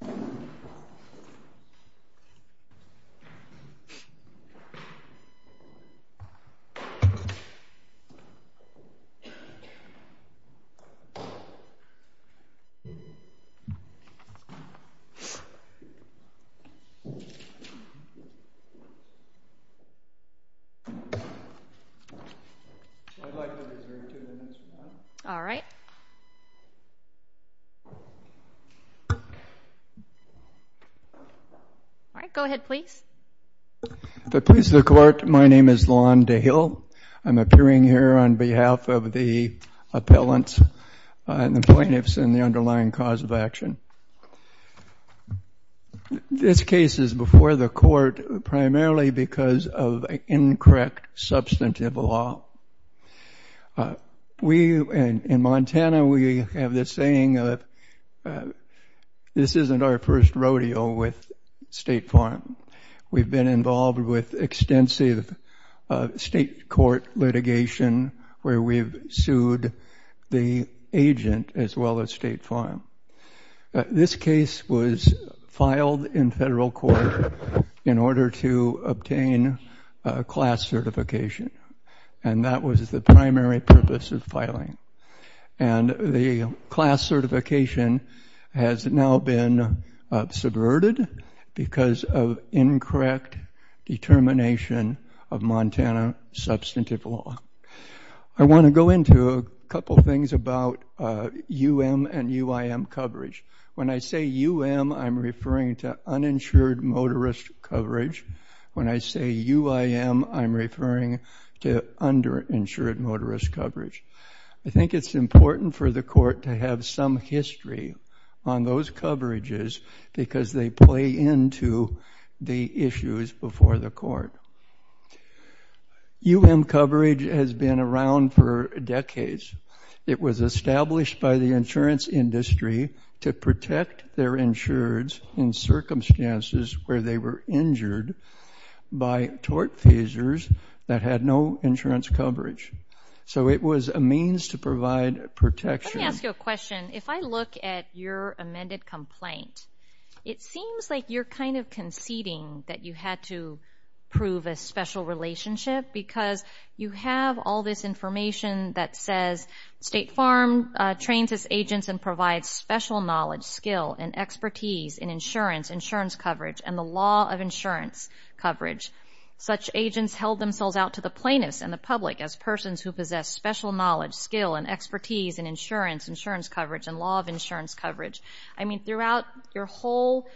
I'd like to reserve two minutes, ma'am. All right. Go ahead, please. The Police of the Court, my name is Lon DeHill. I'm appearing here on behalf of the appellants and the plaintiffs and the underlying cause of action. This case is before the court primarily because of incorrect substantive law. We, in Montana, we have this saying that this isn't our first rodeo with State Farm. We've been involved with extensive state court litigation where we've sued the agent as well as State Farm. This case was filed in federal court in order to obtain class certification. And that was the primary purpose of filing. And the class certification has now been subverted because of incorrect determination of Montana substantive law. I want to go into a couple things about UM and UIM coverage. When I say UM, I'm referring to uninsured motorist coverage. When I say UIM, I'm referring to underinsured motorist coverage. I think it's important for the court to have some history on those coverages because they play into the issues before the court. UM coverage has been around for decades. It was established by the insurance industry to protect their insureds in circumstances where they were injured by tort feasors that had no insurance coverage. So it was a means to provide protection. Let me ask you a question. If I look at your amended complaint, it seems like you're kind of conceding that you had to prove a special relationship because you have all this information that says State Farm trains its agents and provides special knowledge, skill, and expertise in insurance, insurance coverage, and the law of insurance coverage. Such agents held themselves out to the plaintiffs and the public as persons who possess special knowledge, skill, and expertise in insurance, insurance coverage, and law of insurance coverage. I mean, throughout your whole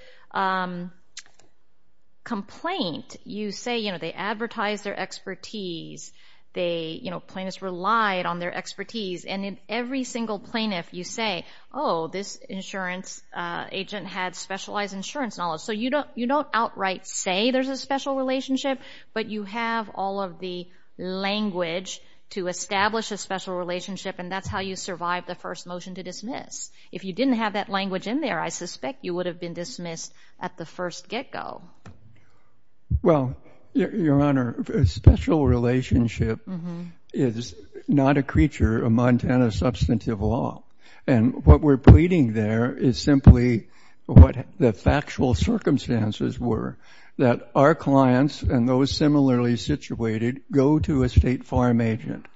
complaint, you say they advertise their expertise. Plaintiffs relied on their expertise. And in every single plaintiff, you say, oh, this insurance agent had specialized insurance knowledge. So you don't outright say there's a special relationship, but you have all of the language to establish a special relationship, and that's how you survive the first motion to dismiss. If you didn't have that language in there, I suspect you would have been dismissed at the first get-go. Well, Your Honor, a special relationship is not a creature of Montana substantive law. And what we're pleading there is simply what the factual circumstances were, that our clients and those similarly situated go to a State Farm agent.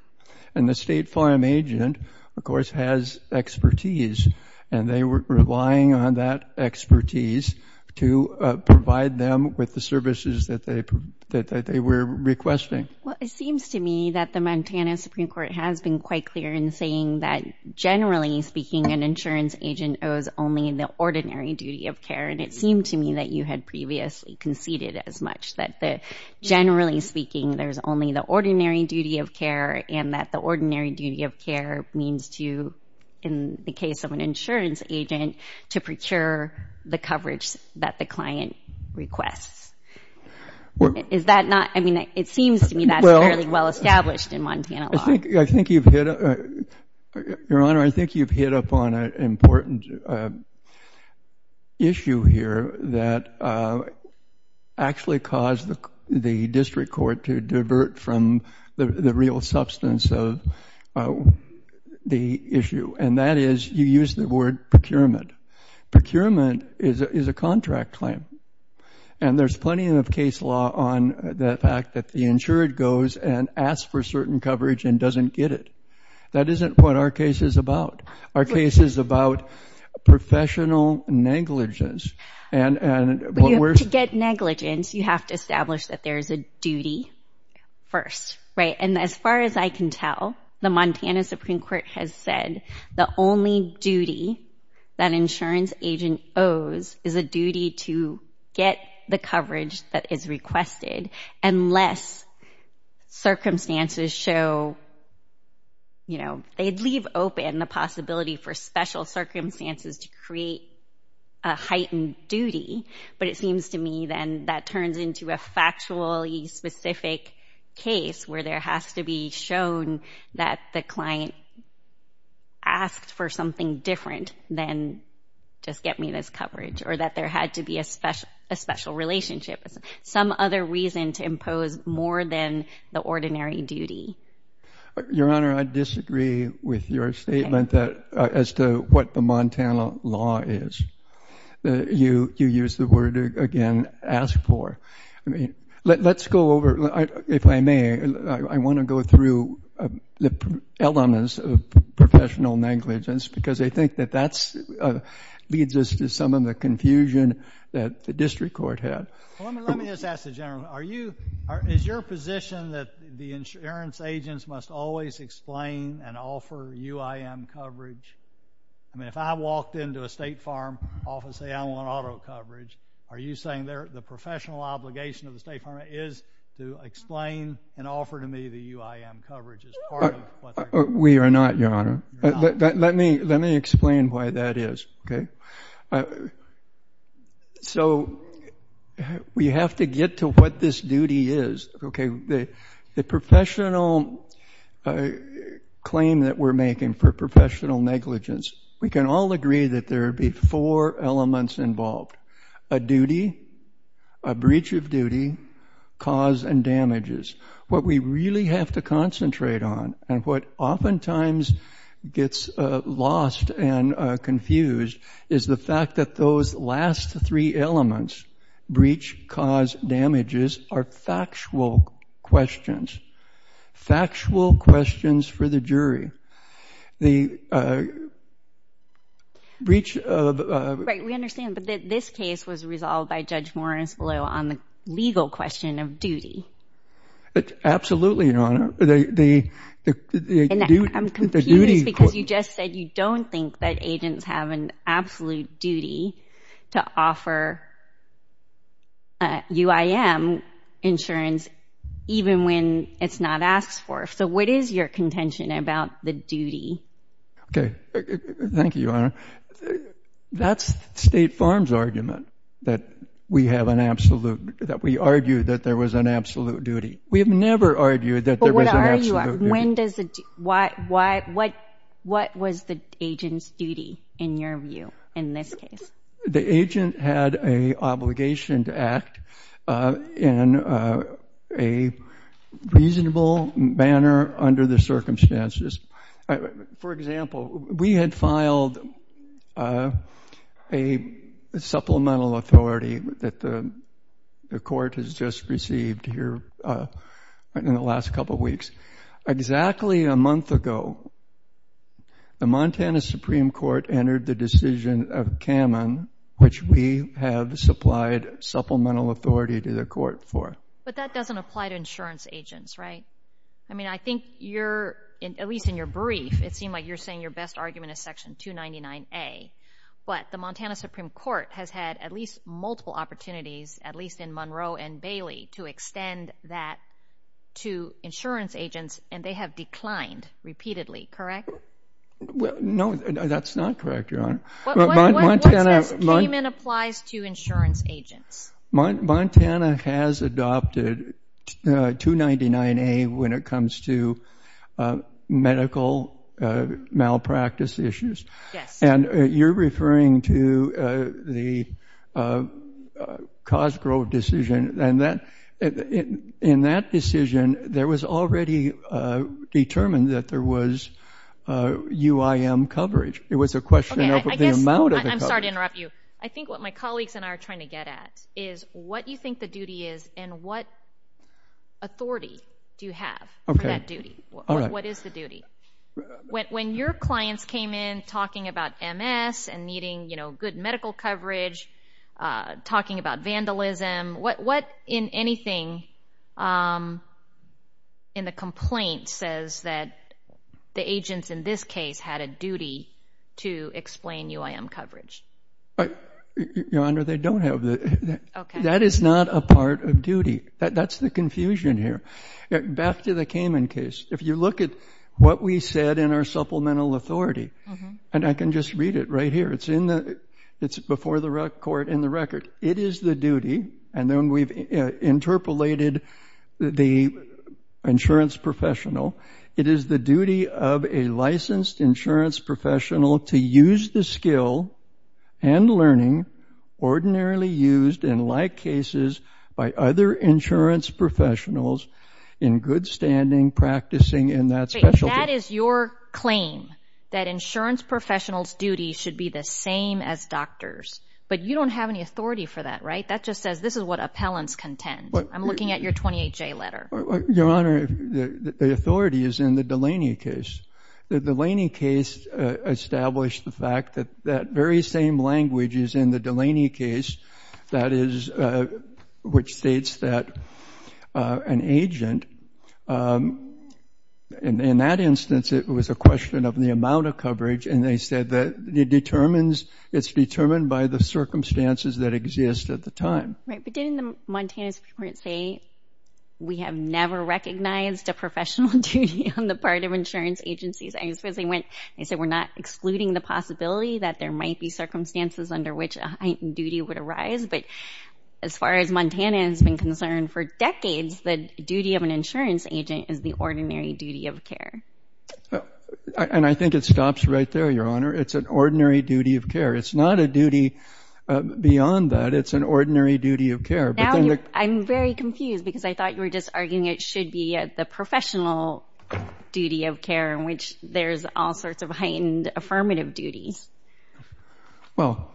And the State Farm agent, of course, has expertise. And they were relying on that expertise to provide them with the services that they were requesting. Well, it seems to me that the Montana Supreme Court has been quite clear in saying that, generally speaking, an insurance agent owes only the ordinary duty of care. And it seemed to me that you had previously conceded as much, that generally speaking, there's only the ordinary duty of care and that the ordinary duty of care means to, in the case of an insurance agent, to procure the coverage that the client requests. Is that not, I mean, it seems to me that's fairly well established in Montana law. I think you've hit, Your Honor, I think you've hit upon an important issue here that actually caused the district court to divert from the real substance of the issue. And that is you use the word procurement. Procurement is a contract claim. And there's plenty of case law on the fact that the insured goes and asks for certain coverage and doesn't get it. That isn't what our case is about. Our case is about professional negligence. To get negligence, you have to establish that there is a duty first, right? And as far as I can tell, the Montana Supreme Court has said the only duty that an insurance agent owes is a duty to get the coverage that is requested unless circumstances show, you know, they'd leave open the possibility for special circumstances to create a heightened duty. But it seems to me then that turns into a factually specific case where there has to be shown that the client asked for something different than just get me this coverage or that there had to be a special relationship, some other reason to impose more than the ordinary duty. Your Honor, I disagree with your statement as to what the Montana law is. You use the word, again, ask for. Let's go over, if I may, I want to go through the elements of professional negligence because I think that that leads us to some of the confusion that the district court had. Well, let me just ask the gentleman. Is your position that the insurance agents must always explain and offer UIM coverage? I mean, if I walked into a State Farm office and say I want auto coverage, are you saying the professional obligation of the State Farm is to explain and offer to me the UIM coverage as part of what they're doing? We are not, Your Honor. Let me explain why that is, okay? So we have to get to what this duty is, okay? The professional claim that we're making for professional negligence, we can all agree that there would be four elements involved, a duty, a breach of duty, cause and damages. What we really have to concentrate on and what oftentimes gets lost and confused is the fact that those last three elements, breach, cause, damages, are factual questions, factual questions for the jury. The breach of... Right, we understand, but this case was resolved by Judge Morris Blue on the legal question of duty. Absolutely, Your Honor. And I'm confused because you just said you don't think that agents have an absolute duty to offer UIM insurance even when it's not asked for. So what is your contention about the duty? Okay, thank you, Your Honor. That's State Farm's argument that we have an absolute, that we argue that there was an absolute duty. We have never argued that there was an absolute duty. What was the agent's duty, in your view, in this case? The agent had an obligation to act in a reasonable manner under the circumstances. For example, we had filed a supplemental authority that the court has just received here in the last couple of weeks. Exactly a month ago, the Montana Supreme Court entered the decision of Kamen, which we have supplied supplemental authority to the court for. But that doesn't apply to insurance agents, right? I mean, I think you're, at least in your brief, it seemed like you're saying your best argument is Section 299A. But the Montana Supreme Court has had at least multiple opportunities, at least in Monroe and Bailey, to extend that to insurance agents, and they have declined repeatedly, correct? No, that's not correct, Your Honor. What says Kamen applies to insurance agents? Montana has adopted 299A when it comes to medical malpractice issues. And you're referring to the Cosgrove decision, and in that decision it was already determined that there was UIM coverage. It was a question of the amount of coverage. I'm sorry to interrupt you. I think what my colleagues and I are trying to get at is what you think the duty is and what authority do you have for that duty? What is the duty? When your clients came in talking about MS and needing good medical coverage, talking about vandalism, what in anything in the complaint says that the agents in this case had a duty to explain UIM coverage? Your Honor, they don't have that. That is not a part of duty. That's the confusion here. Back to the Kamen case. If you look at what we said in our supplemental authority, and I can just read it right here. It's before the court in the record. It is the duty, and then we've interpolated the insurance professional. It is the duty of a licensed insurance professional to use the skill and learning ordinarily used in like cases by other insurance professionals in good standing practicing in that specialty. That is your claim, that insurance professionals' duty should be the same as doctors. But you don't have any authority for that, right? That just says this is what appellants contend. I'm looking at your 28-J letter. Your Honor, the authority is in the Delaney case. The Delaney case established the fact that that very same language is in the Delaney case, which states that an agent, in that instance, it was a question of the amount of coverage, and they said that it's determined by the circumstances that exist at the time. Right, but didn't the Montanans report say we have never recognized a professional duty on the part of insurance agencies? I suppose they went and said we're not excluding the possibility that there might be circumstances under which a heightened duty would arise. But as far as Montana has been concerned for decades, the duty of an insurance agent is the ordinary duty of care. And I think it stops right there, Your Honor. It's an ordinary duty of care. It's not a duty beyond that. It's an ordinary duty of care. I'm very confused because I thought you were just arguing it should be the professional duty of care in which there's all sorts of heightened affirmative duties. Well,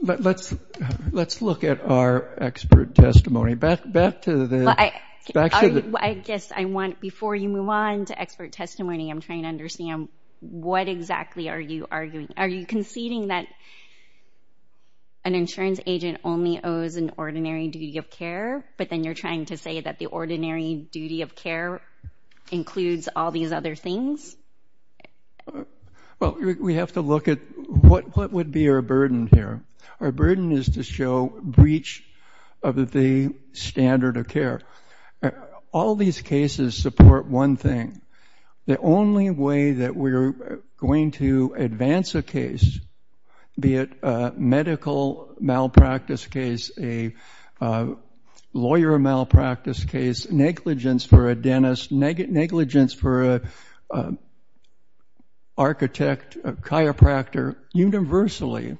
let's look at our expert testimony. Back to the— I guess I want, before you move on to expert testimony, I'm trying to understand what exactly are you arguing. Are you conceding that an insurance agent only owes an ordinary duty of care, but then you're trying to say that the ordinary duty of care includes all these other things? Well, we have to look at what would be our burden here. Our burden is to show breach of the standard of care. All these cases support one thing. The only way that we're going to advance a case, be it a medical malpractice case, a lawyer malpractice case, negligence for a dentist, negligence for an architect, a chiropractor, universally,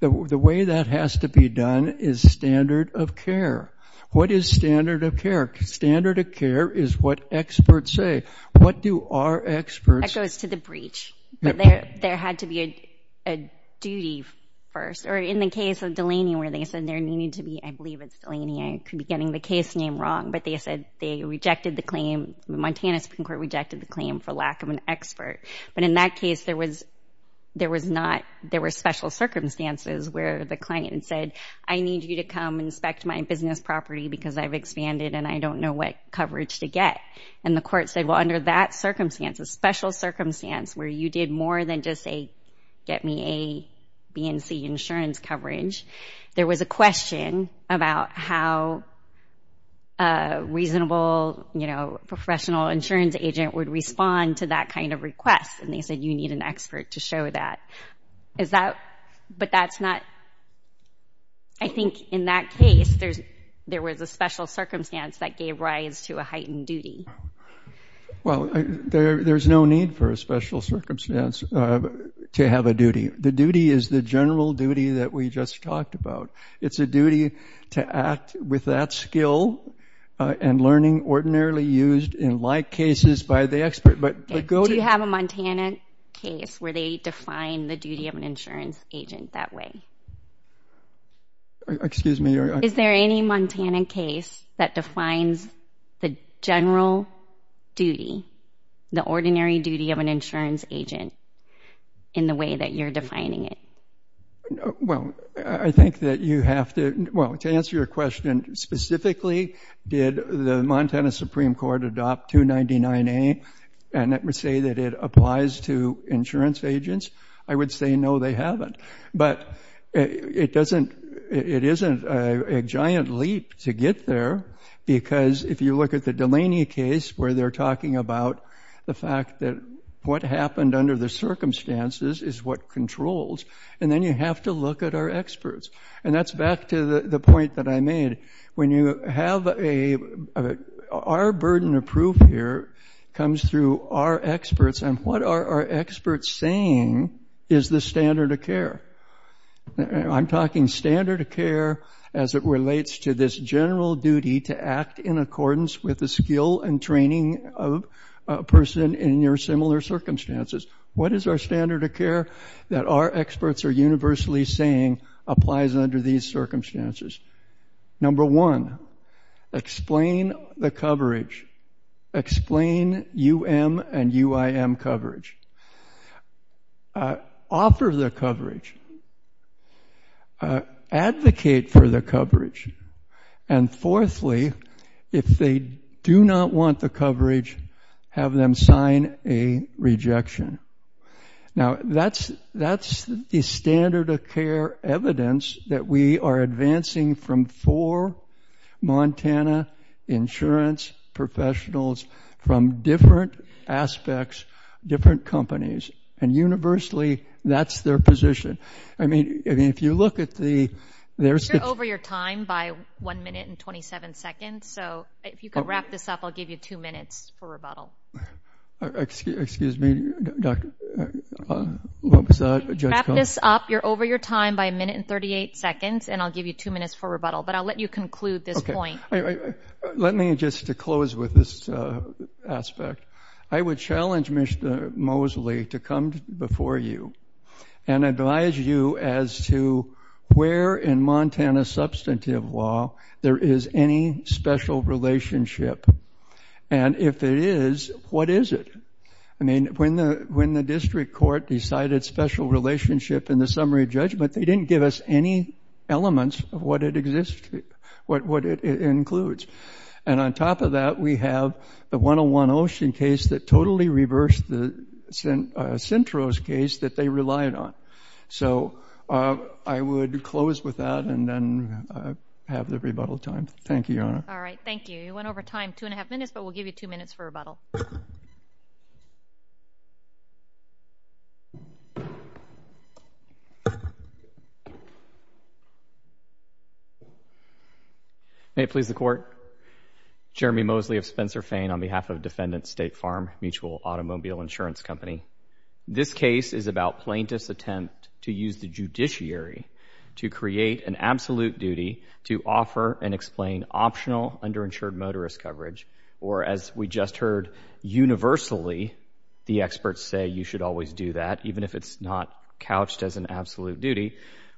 the way that has to be done is standard of care. What is standard of care? Standard of care is what experts say. What do our experts— That goes to the breach, but there had to be a duty first. Or in the case of Delaney where they said there needed to be— I believe it's Delaney, I could be getting the case name wrong, but they said they rejected the claim, the Montana Supreme Court rejected the claim for lack of an expert. But in that case, there was not— there were special circumstances where the client said, I need you to come inspect my business property because I've expanded and I don't know what coverage to get. And the court said, well, under that circumstance, a special circumstance where you did more than just say, get me A, B, and C insurance coverage, there was a question about how a reasonable professional insurance agent would respond to that kind of request. And they said you need an expert to show that. But that's not—I think in that case, there was a special circumstance that gave rise to a heightened duty. Well, there's no need for a special circumstance to have a duty. The duty is the general duty that we just talked about. It's a duty to act with that skill and learning ordinarily used in like cases by the expert. Do you have a Montana case where they define the duty of an insurance agent that way? Excuse me? Is there any Montana case that defines the general duty, the ordinary duty of an insurance agent in the way that you're defining it? Well, I think that you have to—well, to answer your question specifically, did the Montana Supreme Court adopt 299A and say that it applies to insurance agents, I would say no, they haven't. But it doesn't—it isn't a giant leap to get there because if you look at the Delaney case where they're talking about the fact that what happened under the circumstances is what controls, and then you have to look at our experts. And that's back to the point that I made. When you have a—our burden of proof here comes through our experts, and what are our experts saying is the standard of care? I'm talking standard of care as it relates to this general duty to act in accordance with the skill and training of a person in your similar circumstances. What is our standard of care that our experts are universally saying applies under these circumstances? Number one, explain the coverage. Explain UM and UIM coverage. Offer the coverage. Advocate for the coverage. And fourthly, if they do not want the coverage, have them sign a rejection. Now, that's the standard of care evidence that we are advancing from four Montana insurance professionals from different aspects, different companies. And universally, that's their position. I mean, if you look at the— You're over your time by one minute and 27 seconds, so if you could wrap this up, I'll give you two minutes for rebuttal. Excuse me. What was that? Wrap this up. You're over your time by a minute and 38 seconds, and I'll give you two minutes for rebuttal, but I'll let you conclude this point. Let me just close with this aspect. I would challenge Mr. Mosley to come before you and advise you as to where in Montana substantive law there is any special relationship, and if it is, what is it? I mean, when the district court decided special relationship in the summary judgment, they didn't give us any elements of what it includes. And on top of that, we have the 101 Ocean case that totally reversed the Cintros case that they relied on. So I would close with that and then have the rebuttal time. Thank you, Your Honor. All right, thank you. You went over time two and a half minutes, but we'll give you two minutes for rebuttal. May it please the Court. Jeremy Mosley of Spencer Fane on behalf of Defendant State Farm Mutual Automobile Insurance Company. This case is about plaintiff's attempt to use the judiciary to create an absolute duty to offer and explain optional underinsured motorist coverage, or as we just heard, universally the experts say you should always do that, even if it's not couched as an absolute duty,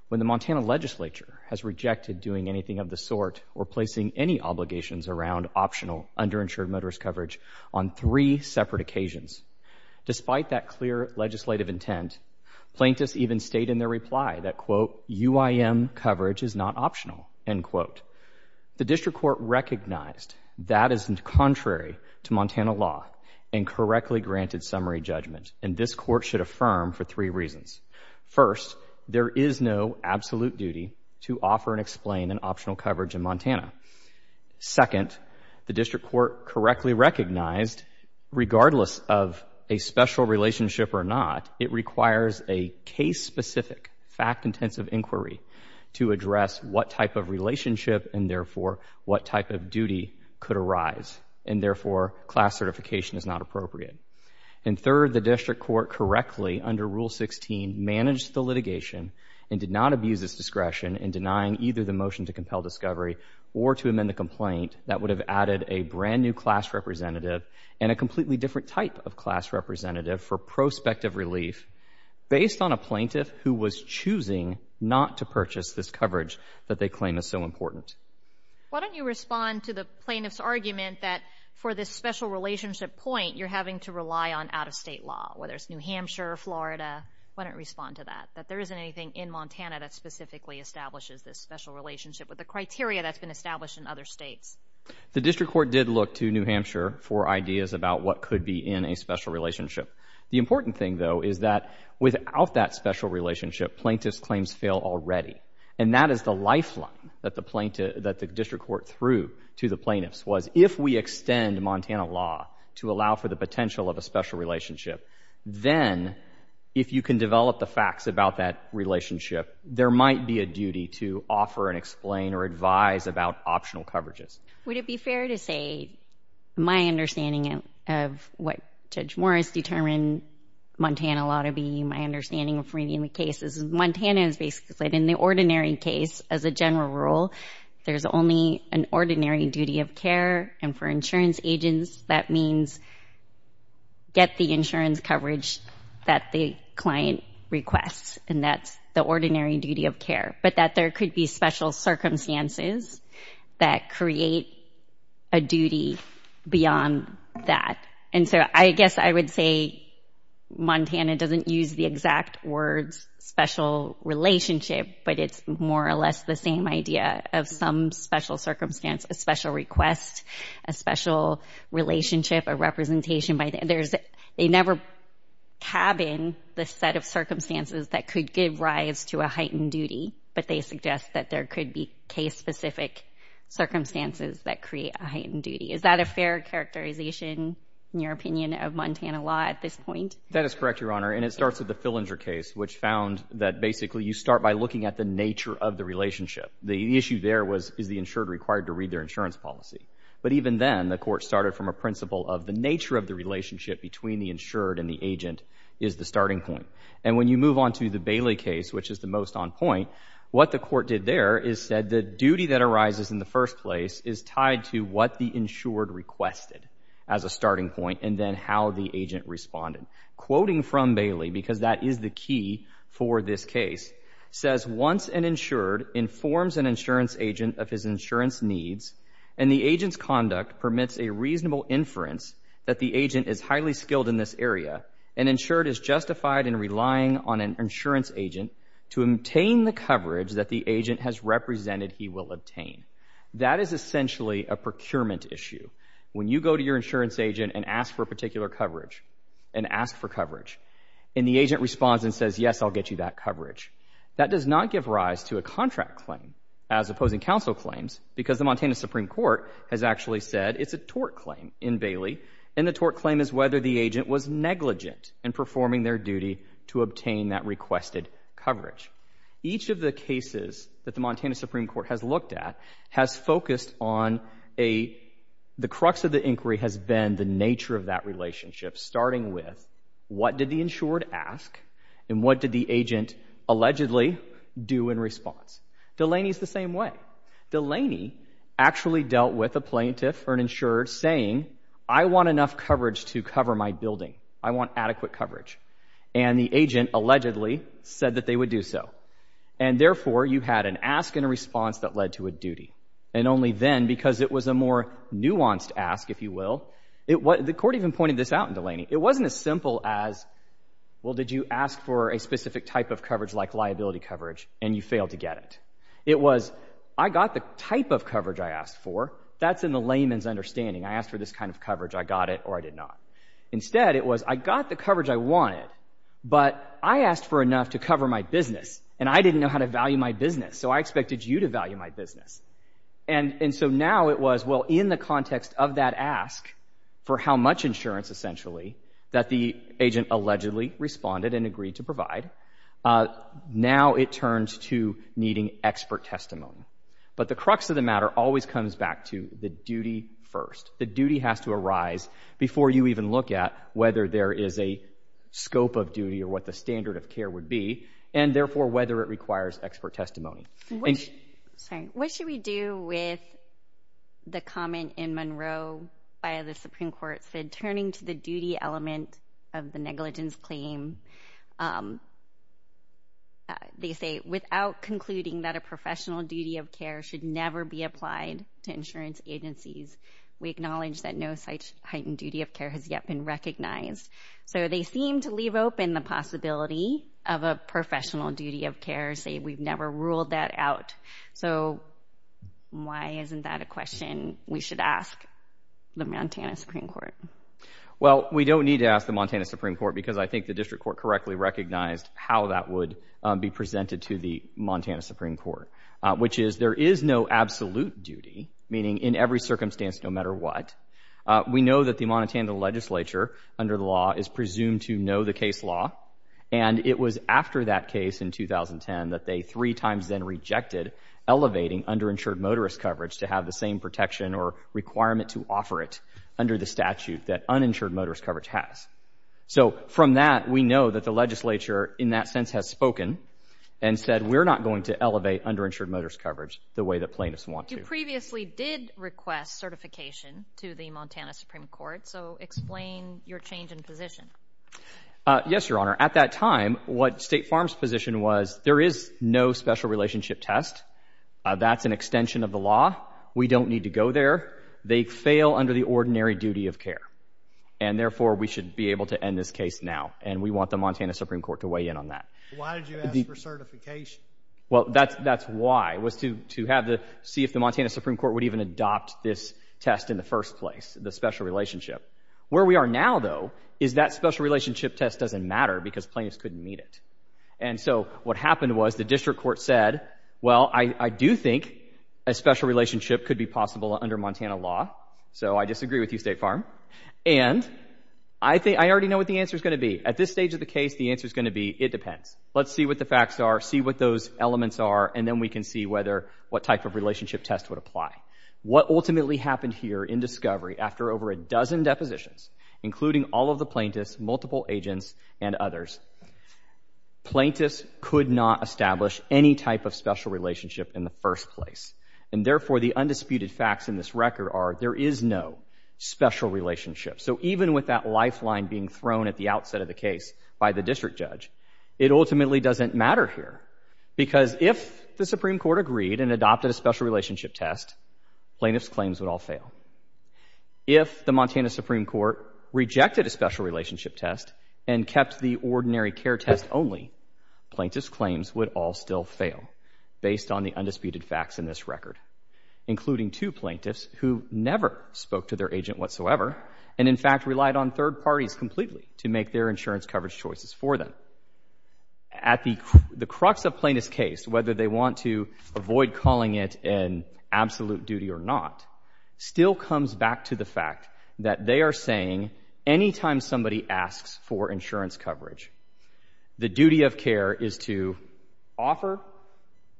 when the Montana legislature has rejected doing anything of the sort or placing any obligations around optional underinsured motorist coverage on three separate occasions. Despite that clear legislative intent, plaintiffs even state in their reply that, quote, UIM coverage is not optional, end quote. The district court recognized that is contrary to Montana law and correctly granted summary judgment, and this court should affirm for three reasons. First, there is no absolute duty to offer and explain an optional coverage in Montana. Second, the district court correctly recognized regardless of a special relationship or not, it requires a case-specific, fact-intensive inquiry to address what type of relationship and therefore what type of duty could arise, and therefore class certification is not appropriate. And third, the district court correctly under Rule 16 managed the litigation and did not abuse its discretion in denying either the motion to compel discovery or to amend the complaint that would have added a brand-new class representative and a completely different type of class representative for prospective relief based on a plaintiff who was choosing not to purchase this coverage that they claim is so important. Why don't you respond to the plaintiff's argument that for this special relationship point, you're having to rely on out-of-state law, whether it's New Hampshire or Florida. Why don't you respond to that, that there isn't anything in Montana that specifically establishes this special relationship with the criteria that's been established in other states? The district court did look to New Hampshire for ideas about what could be in a special relationship. The important thing, though, is that without that special relationship, plaintiffs' claims fail already, and that is the lifeline that the district court threw to the plaintiffs, was if we extend Montana law to allow for the potential of a special relationship, then if you can develop the facts about that relationship, there might be a duty to offer and explain or advise about optional coverages. Would it be fair to say my understanding of what Judge Morris determined Montana law to be, my understanding of reading the cases, Montana is basically that in the ordinary case, as a general rule, there's only an ordinary duty of care, and for insurance agents, that means get the insurance coverage that the client requests, and that's the ordinary duty of care, but that there could be special circumstances that create a duty beyond that. And so I guess I would say Montana doesn't use the exact words special relationship, but it's more or less the same idea of some special circumstance, a special request, a special relationship, a representation. They never cabin the set of circumstances that could give rise to a heightened duty, but they suggest that there could be case-specific circumstances that create a heightened duty. Is that a fair characterization, in your opinion, of Montana law at this point? That is correct, Your Honor, and it starts with the Fillinger case, which found that basically you start by looking at the nature of the relationship. The issue there was is the insured required to read their insurance policy, but even then the court started from a principle of the nature of the relationship between the insured and the agent is the starting point. And when you move on to the Bailey case, which is the most on point, what the court did there is said the duty that arises in the first place is tied to what the insured requested as a starting point and then how the agent responded. Quoting from Bailey, because that is the key for this case, says once an insured informs an insurance agent of his insurance needs and the agent's conduct permits a reasonable inference that the agent is highly skilled in this area, an insured is justified in relying on an insurance agent to obtain the coverage that the agent has represented he will obtain. That is essentially a procurement issue. When you go to your insurance agent and ask for a particular coverage and ask for coverage and the agent responds and says, yes, I'll get you that coverage, that does not give rise to a contract claim as opposing counsel claims because the Montana Supreme Court has actually said it's a tort claim in Bailey and the tort claim is whether the agent was negligent in performing their duty to obtain that requested coverage. Each of the cases that the Montana Supreme Court has looked at has focused on the crux of the inquiry has been the nature of that relationship starting with what did the insured ask and what did the agent allegedly do in response. Delaney is the same way. Delaney actually dealt with a plaintiff or an insured saying, I want enough coverage to cover my building, I want adequate coverage and the agent allegedly said that they would do so and therefore you had an ask and a response that led to a duty and only then because it was a more nuanced ask, if you will, the court even pointed this out in Delaney, it wasn't as simple as, well, did you ask for a specific type of coverage like liability coverage and you failed to get it. It was, I got the type of coverage I asked for, that's in the layman's understanding, I asked for this kind of coverage, I got it or I did not. Instead it was, I got the coverage I wanted but I asked for enough to cover my business and I didn't know how to value my business so I expected you to value my business. And so now it was, well, in the context of that ask for how much insurance essentially that the agent allegedly responded and agreed to provide, now it turns to needing expert testimony. But the crux of the matter always comes back to the duty first. The duty has to arise before you even look at whether there is a scope of duty or what the standard of care would be and therefore whether it requires expert testimony. What should we do with the comment in Monroe by the Supreme Court that turning to the duty element of the negligence claim, they say, without concluding that a professional duty of care should never be applied to insurance agencies, we acknowledge that no such heightened duty of care has yet been recognized. So they seem to leave open the possibility of a professional duty of care, say we've never ruled that out. So why isn't that a question we should ask the Montana Supreme Court? Well, we don't need to ask the Montana Supreme Court because I think the District Court correctly recognized how that would be presented to the Montana Supreme Court, which is there is no absolute duty, meaning in every circumstance no matter what. We know that the Montana legislature under the law is presumed to know the case law, and it was after that case in 2010 that they three times then rejected elevating underinsured motorist coverage to have the same protection or requirement to offer it under the statute that uninsured motorist coverage has. So from that we know that the legislature in that sense has spoken and said we're not going to elevate underinsured motorist coverage the way that plaintiffs want to. You previously did request certification to the Montana Supreme Court, so explain your change in position. Yes, Your Honor. At that time what State Farm's position was there is no special relationship test. That's an extension of the law. We don't need to go there. They fail under the ordinary duty of care, and therefore we should be able to end this case now, and we want the Montana Supreme Court to weigh in on that. Why did you ask for certification? Well, that's why, was to see if the Montana Supreme Court would even adopt this test in the first place, the special relationship. Where we are now, though, is that special relationship test doesn't matter because plaintiffs couldn't meet it. And so what happened was the District Court said, well, I do think a special relationship could be possible under Montana law, so I disagree with you, State Farm. And I already know what the answer's going to be. At this stage of the case, the answer's going to be it depends. Let's see what the facts are, see what those elements are, and then we can see what type of relationship test would apply. What ultimately happened here in discovery, after over a dozen depositions, including all of the plaintiffs, multiple agents, and others, plaintiffs could not establish any type of special relationship in the first place. And therefore, the undisputed facts in this record are there is no special relationship. So even with that lifeline being thrown at the outset of the case by the district judge, it ultimately doesn't matter here because if the Supreme Court agreed and adopted a special relationship test, plaintiffs' claims would all fail. If the Montana Supreme Court rejected a special relationship test and kept the ordinary care test only, plaintiffs' claims would all still fail based on the undisputed facts in this record, including two plaintiffs who never spoke to their agent whatsoever and, in fact, relied on third parties completely to make their insurance coverage choices for them. At the crux of plaintiff's case, whether they want to avoid calling it an absolute duty or not, still comes back to the fact that they are saying anytime somebody asks for insurance coverage, the duty of care is to offer,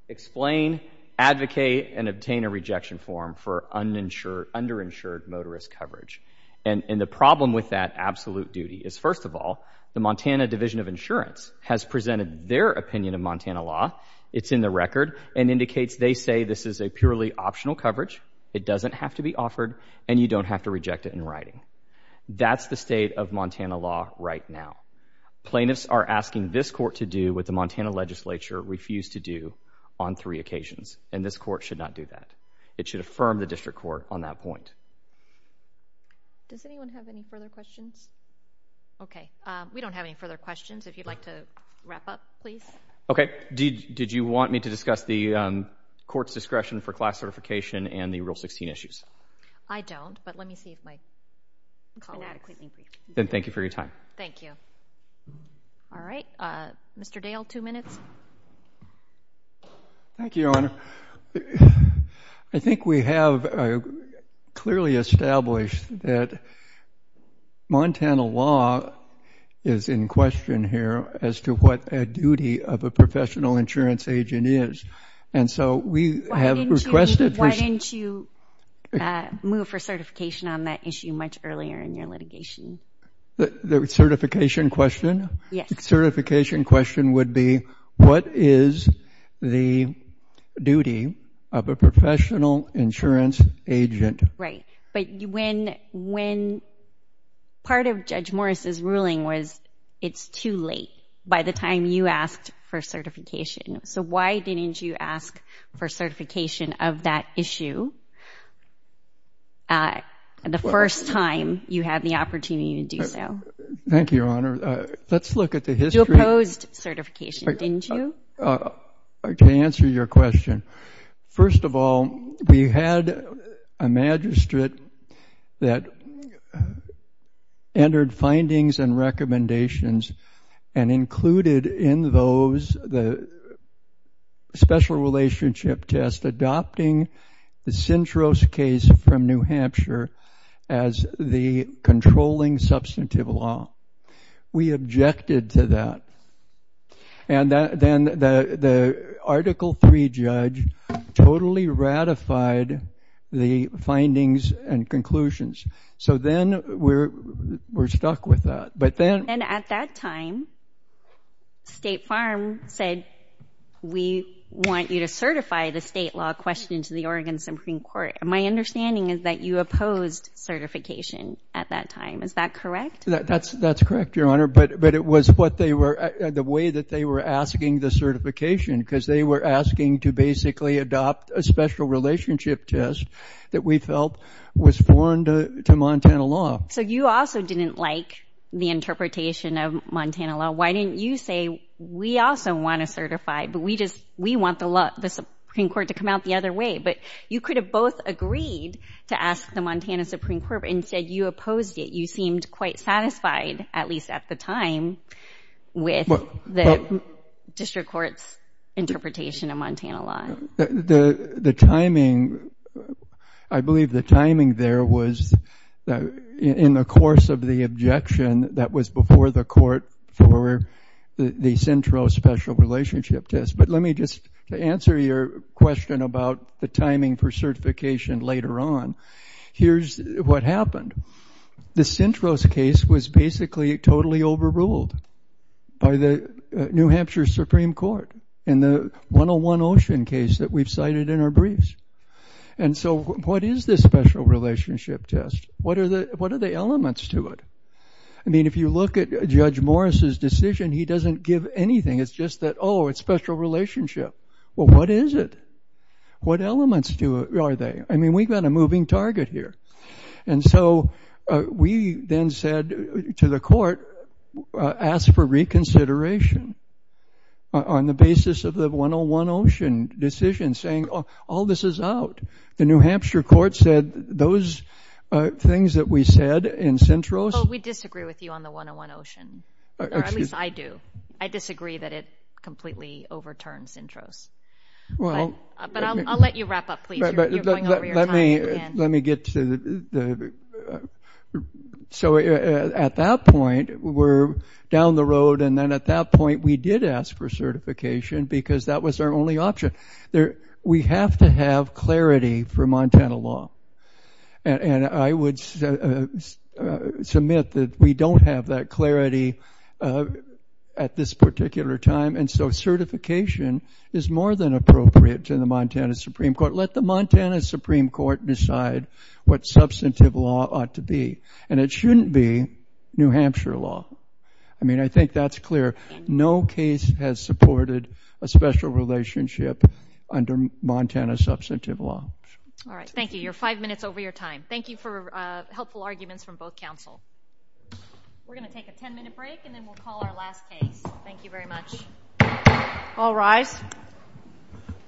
explain, advocate, and obtain a rejection form for underinsured motorist coverage. And the problem with that absolute duty is, first of all, the Montana Division of Insurance has presented their opinion of Montana law. It's in the record and indicates they say this is a purely optional coverage. It doesn't have to be offered, and you don't have to reject it in writing. That's the state of Montana law right now. Plaintiffs are asking this court to do what the Montana legislature refused to do on three occasions, and this court should not do that. It should affirm the district court on that point. Does anyone have any further questions? Okay, we don't have any further questions. If you'd like to wrap up, please. Okay, did you want me to discuss the court's discretion for class certification and the Rule 16 issues? I don't, but let me see if my call has been adequately briefed. Then thank you for your time. Thank you. All right, Mr. Dale, two minutes. Thank you, Your Honor. I think we have clearly established that Montana law is in question here as to what a duty of a professional insurance agent is, and so we have requested for... Why didn't you move for certification on that issue much earlier in your litigation? The certification question? Yes. The certification question would be, what is the duty of a professional insurance agent? Right, but when part of Judge Morris's ruling was it's too late by the time you asked for certification. So why didn't you ask for certification of that issue the first time you had the opportunity to do so? Thank you, Your Honor. Let's look at the history. You opposed certification, didn't you? To answer your question, first of all, we had a magistrate that entered findings and recommendations and included in those the special relationship test adopting the Sintros case from New Hampshire as the controlling substantive law. We objected to that, and then the Article III judge totally ratified the findings and conclusions. So then we're stuck with that. And at that time, State Farm said, we want you to certify the state law question to the Oregon Supreme Court. My understanding is that you opposed certification at that time. Is that correct? That's correct, Your Honor, but it was the way that they were asking the certification because they were asking to basically adopt a special relationship test that we felt was foreign to Montana law. So you also didn't like the interpretation of Montana law. Why didn't you say, we also want to certify, but we want the Supreme Court to come out the other way? But you could have both agreed to ask the Montana Supreme Court, but instead you opposed it. You seemed quite satisfied, at least at the time, with the district court's interpretation of Montana law. The timing, I believe the timing there was in the course of the objection that was before the court for the Centro special relationship test. But let me just answer your question about the timing for certification later on. Here's what happened. The Centro's case was basically totally overruled by the New Hampshire Supreme Court. In the 101 Ocean case that we've cited in our briefs. And so what is this special relationship test? What are the elements to it? I mean, if you look at Judge Morris's decision, he doesn't give anything. It's just that, oh, it's special relationship. Well, what is it? What elements are there? I mean, we've got a moving target here. And so we then said to the court, ask for reconsideration on the basis of the 101 Ocean decision, saying all this is out. The New Hampshire court said those things that we said in Centro's. Well, we disagree with you on the 101 Ocean. Or at least I do. I disagree that it completely overturned Centro's. But I'll let you wrap up, please. You're going over your time again. Let me get to the. So at that point, we're down the road. And then at that point, we did ask for certification because that was our only option there. We have to have clarity for Montana law. And I would submit that we don't have that clarity at this particular time. And so certification is more than appropriate to the Montana Supreme Court. Let the Montana Supreme Court decide what substantive law ought to be. And it shouldn't be New Hampshire law. I mean, I think that's clear. No case has supported a special relationship under Montana substantive law. All right. Thank you. You're five minutes over your time. Thank you for helpful arguments from both counsel. We're going to take a ten-minute break, and then we'll call our last case. Thank you very much. All rise.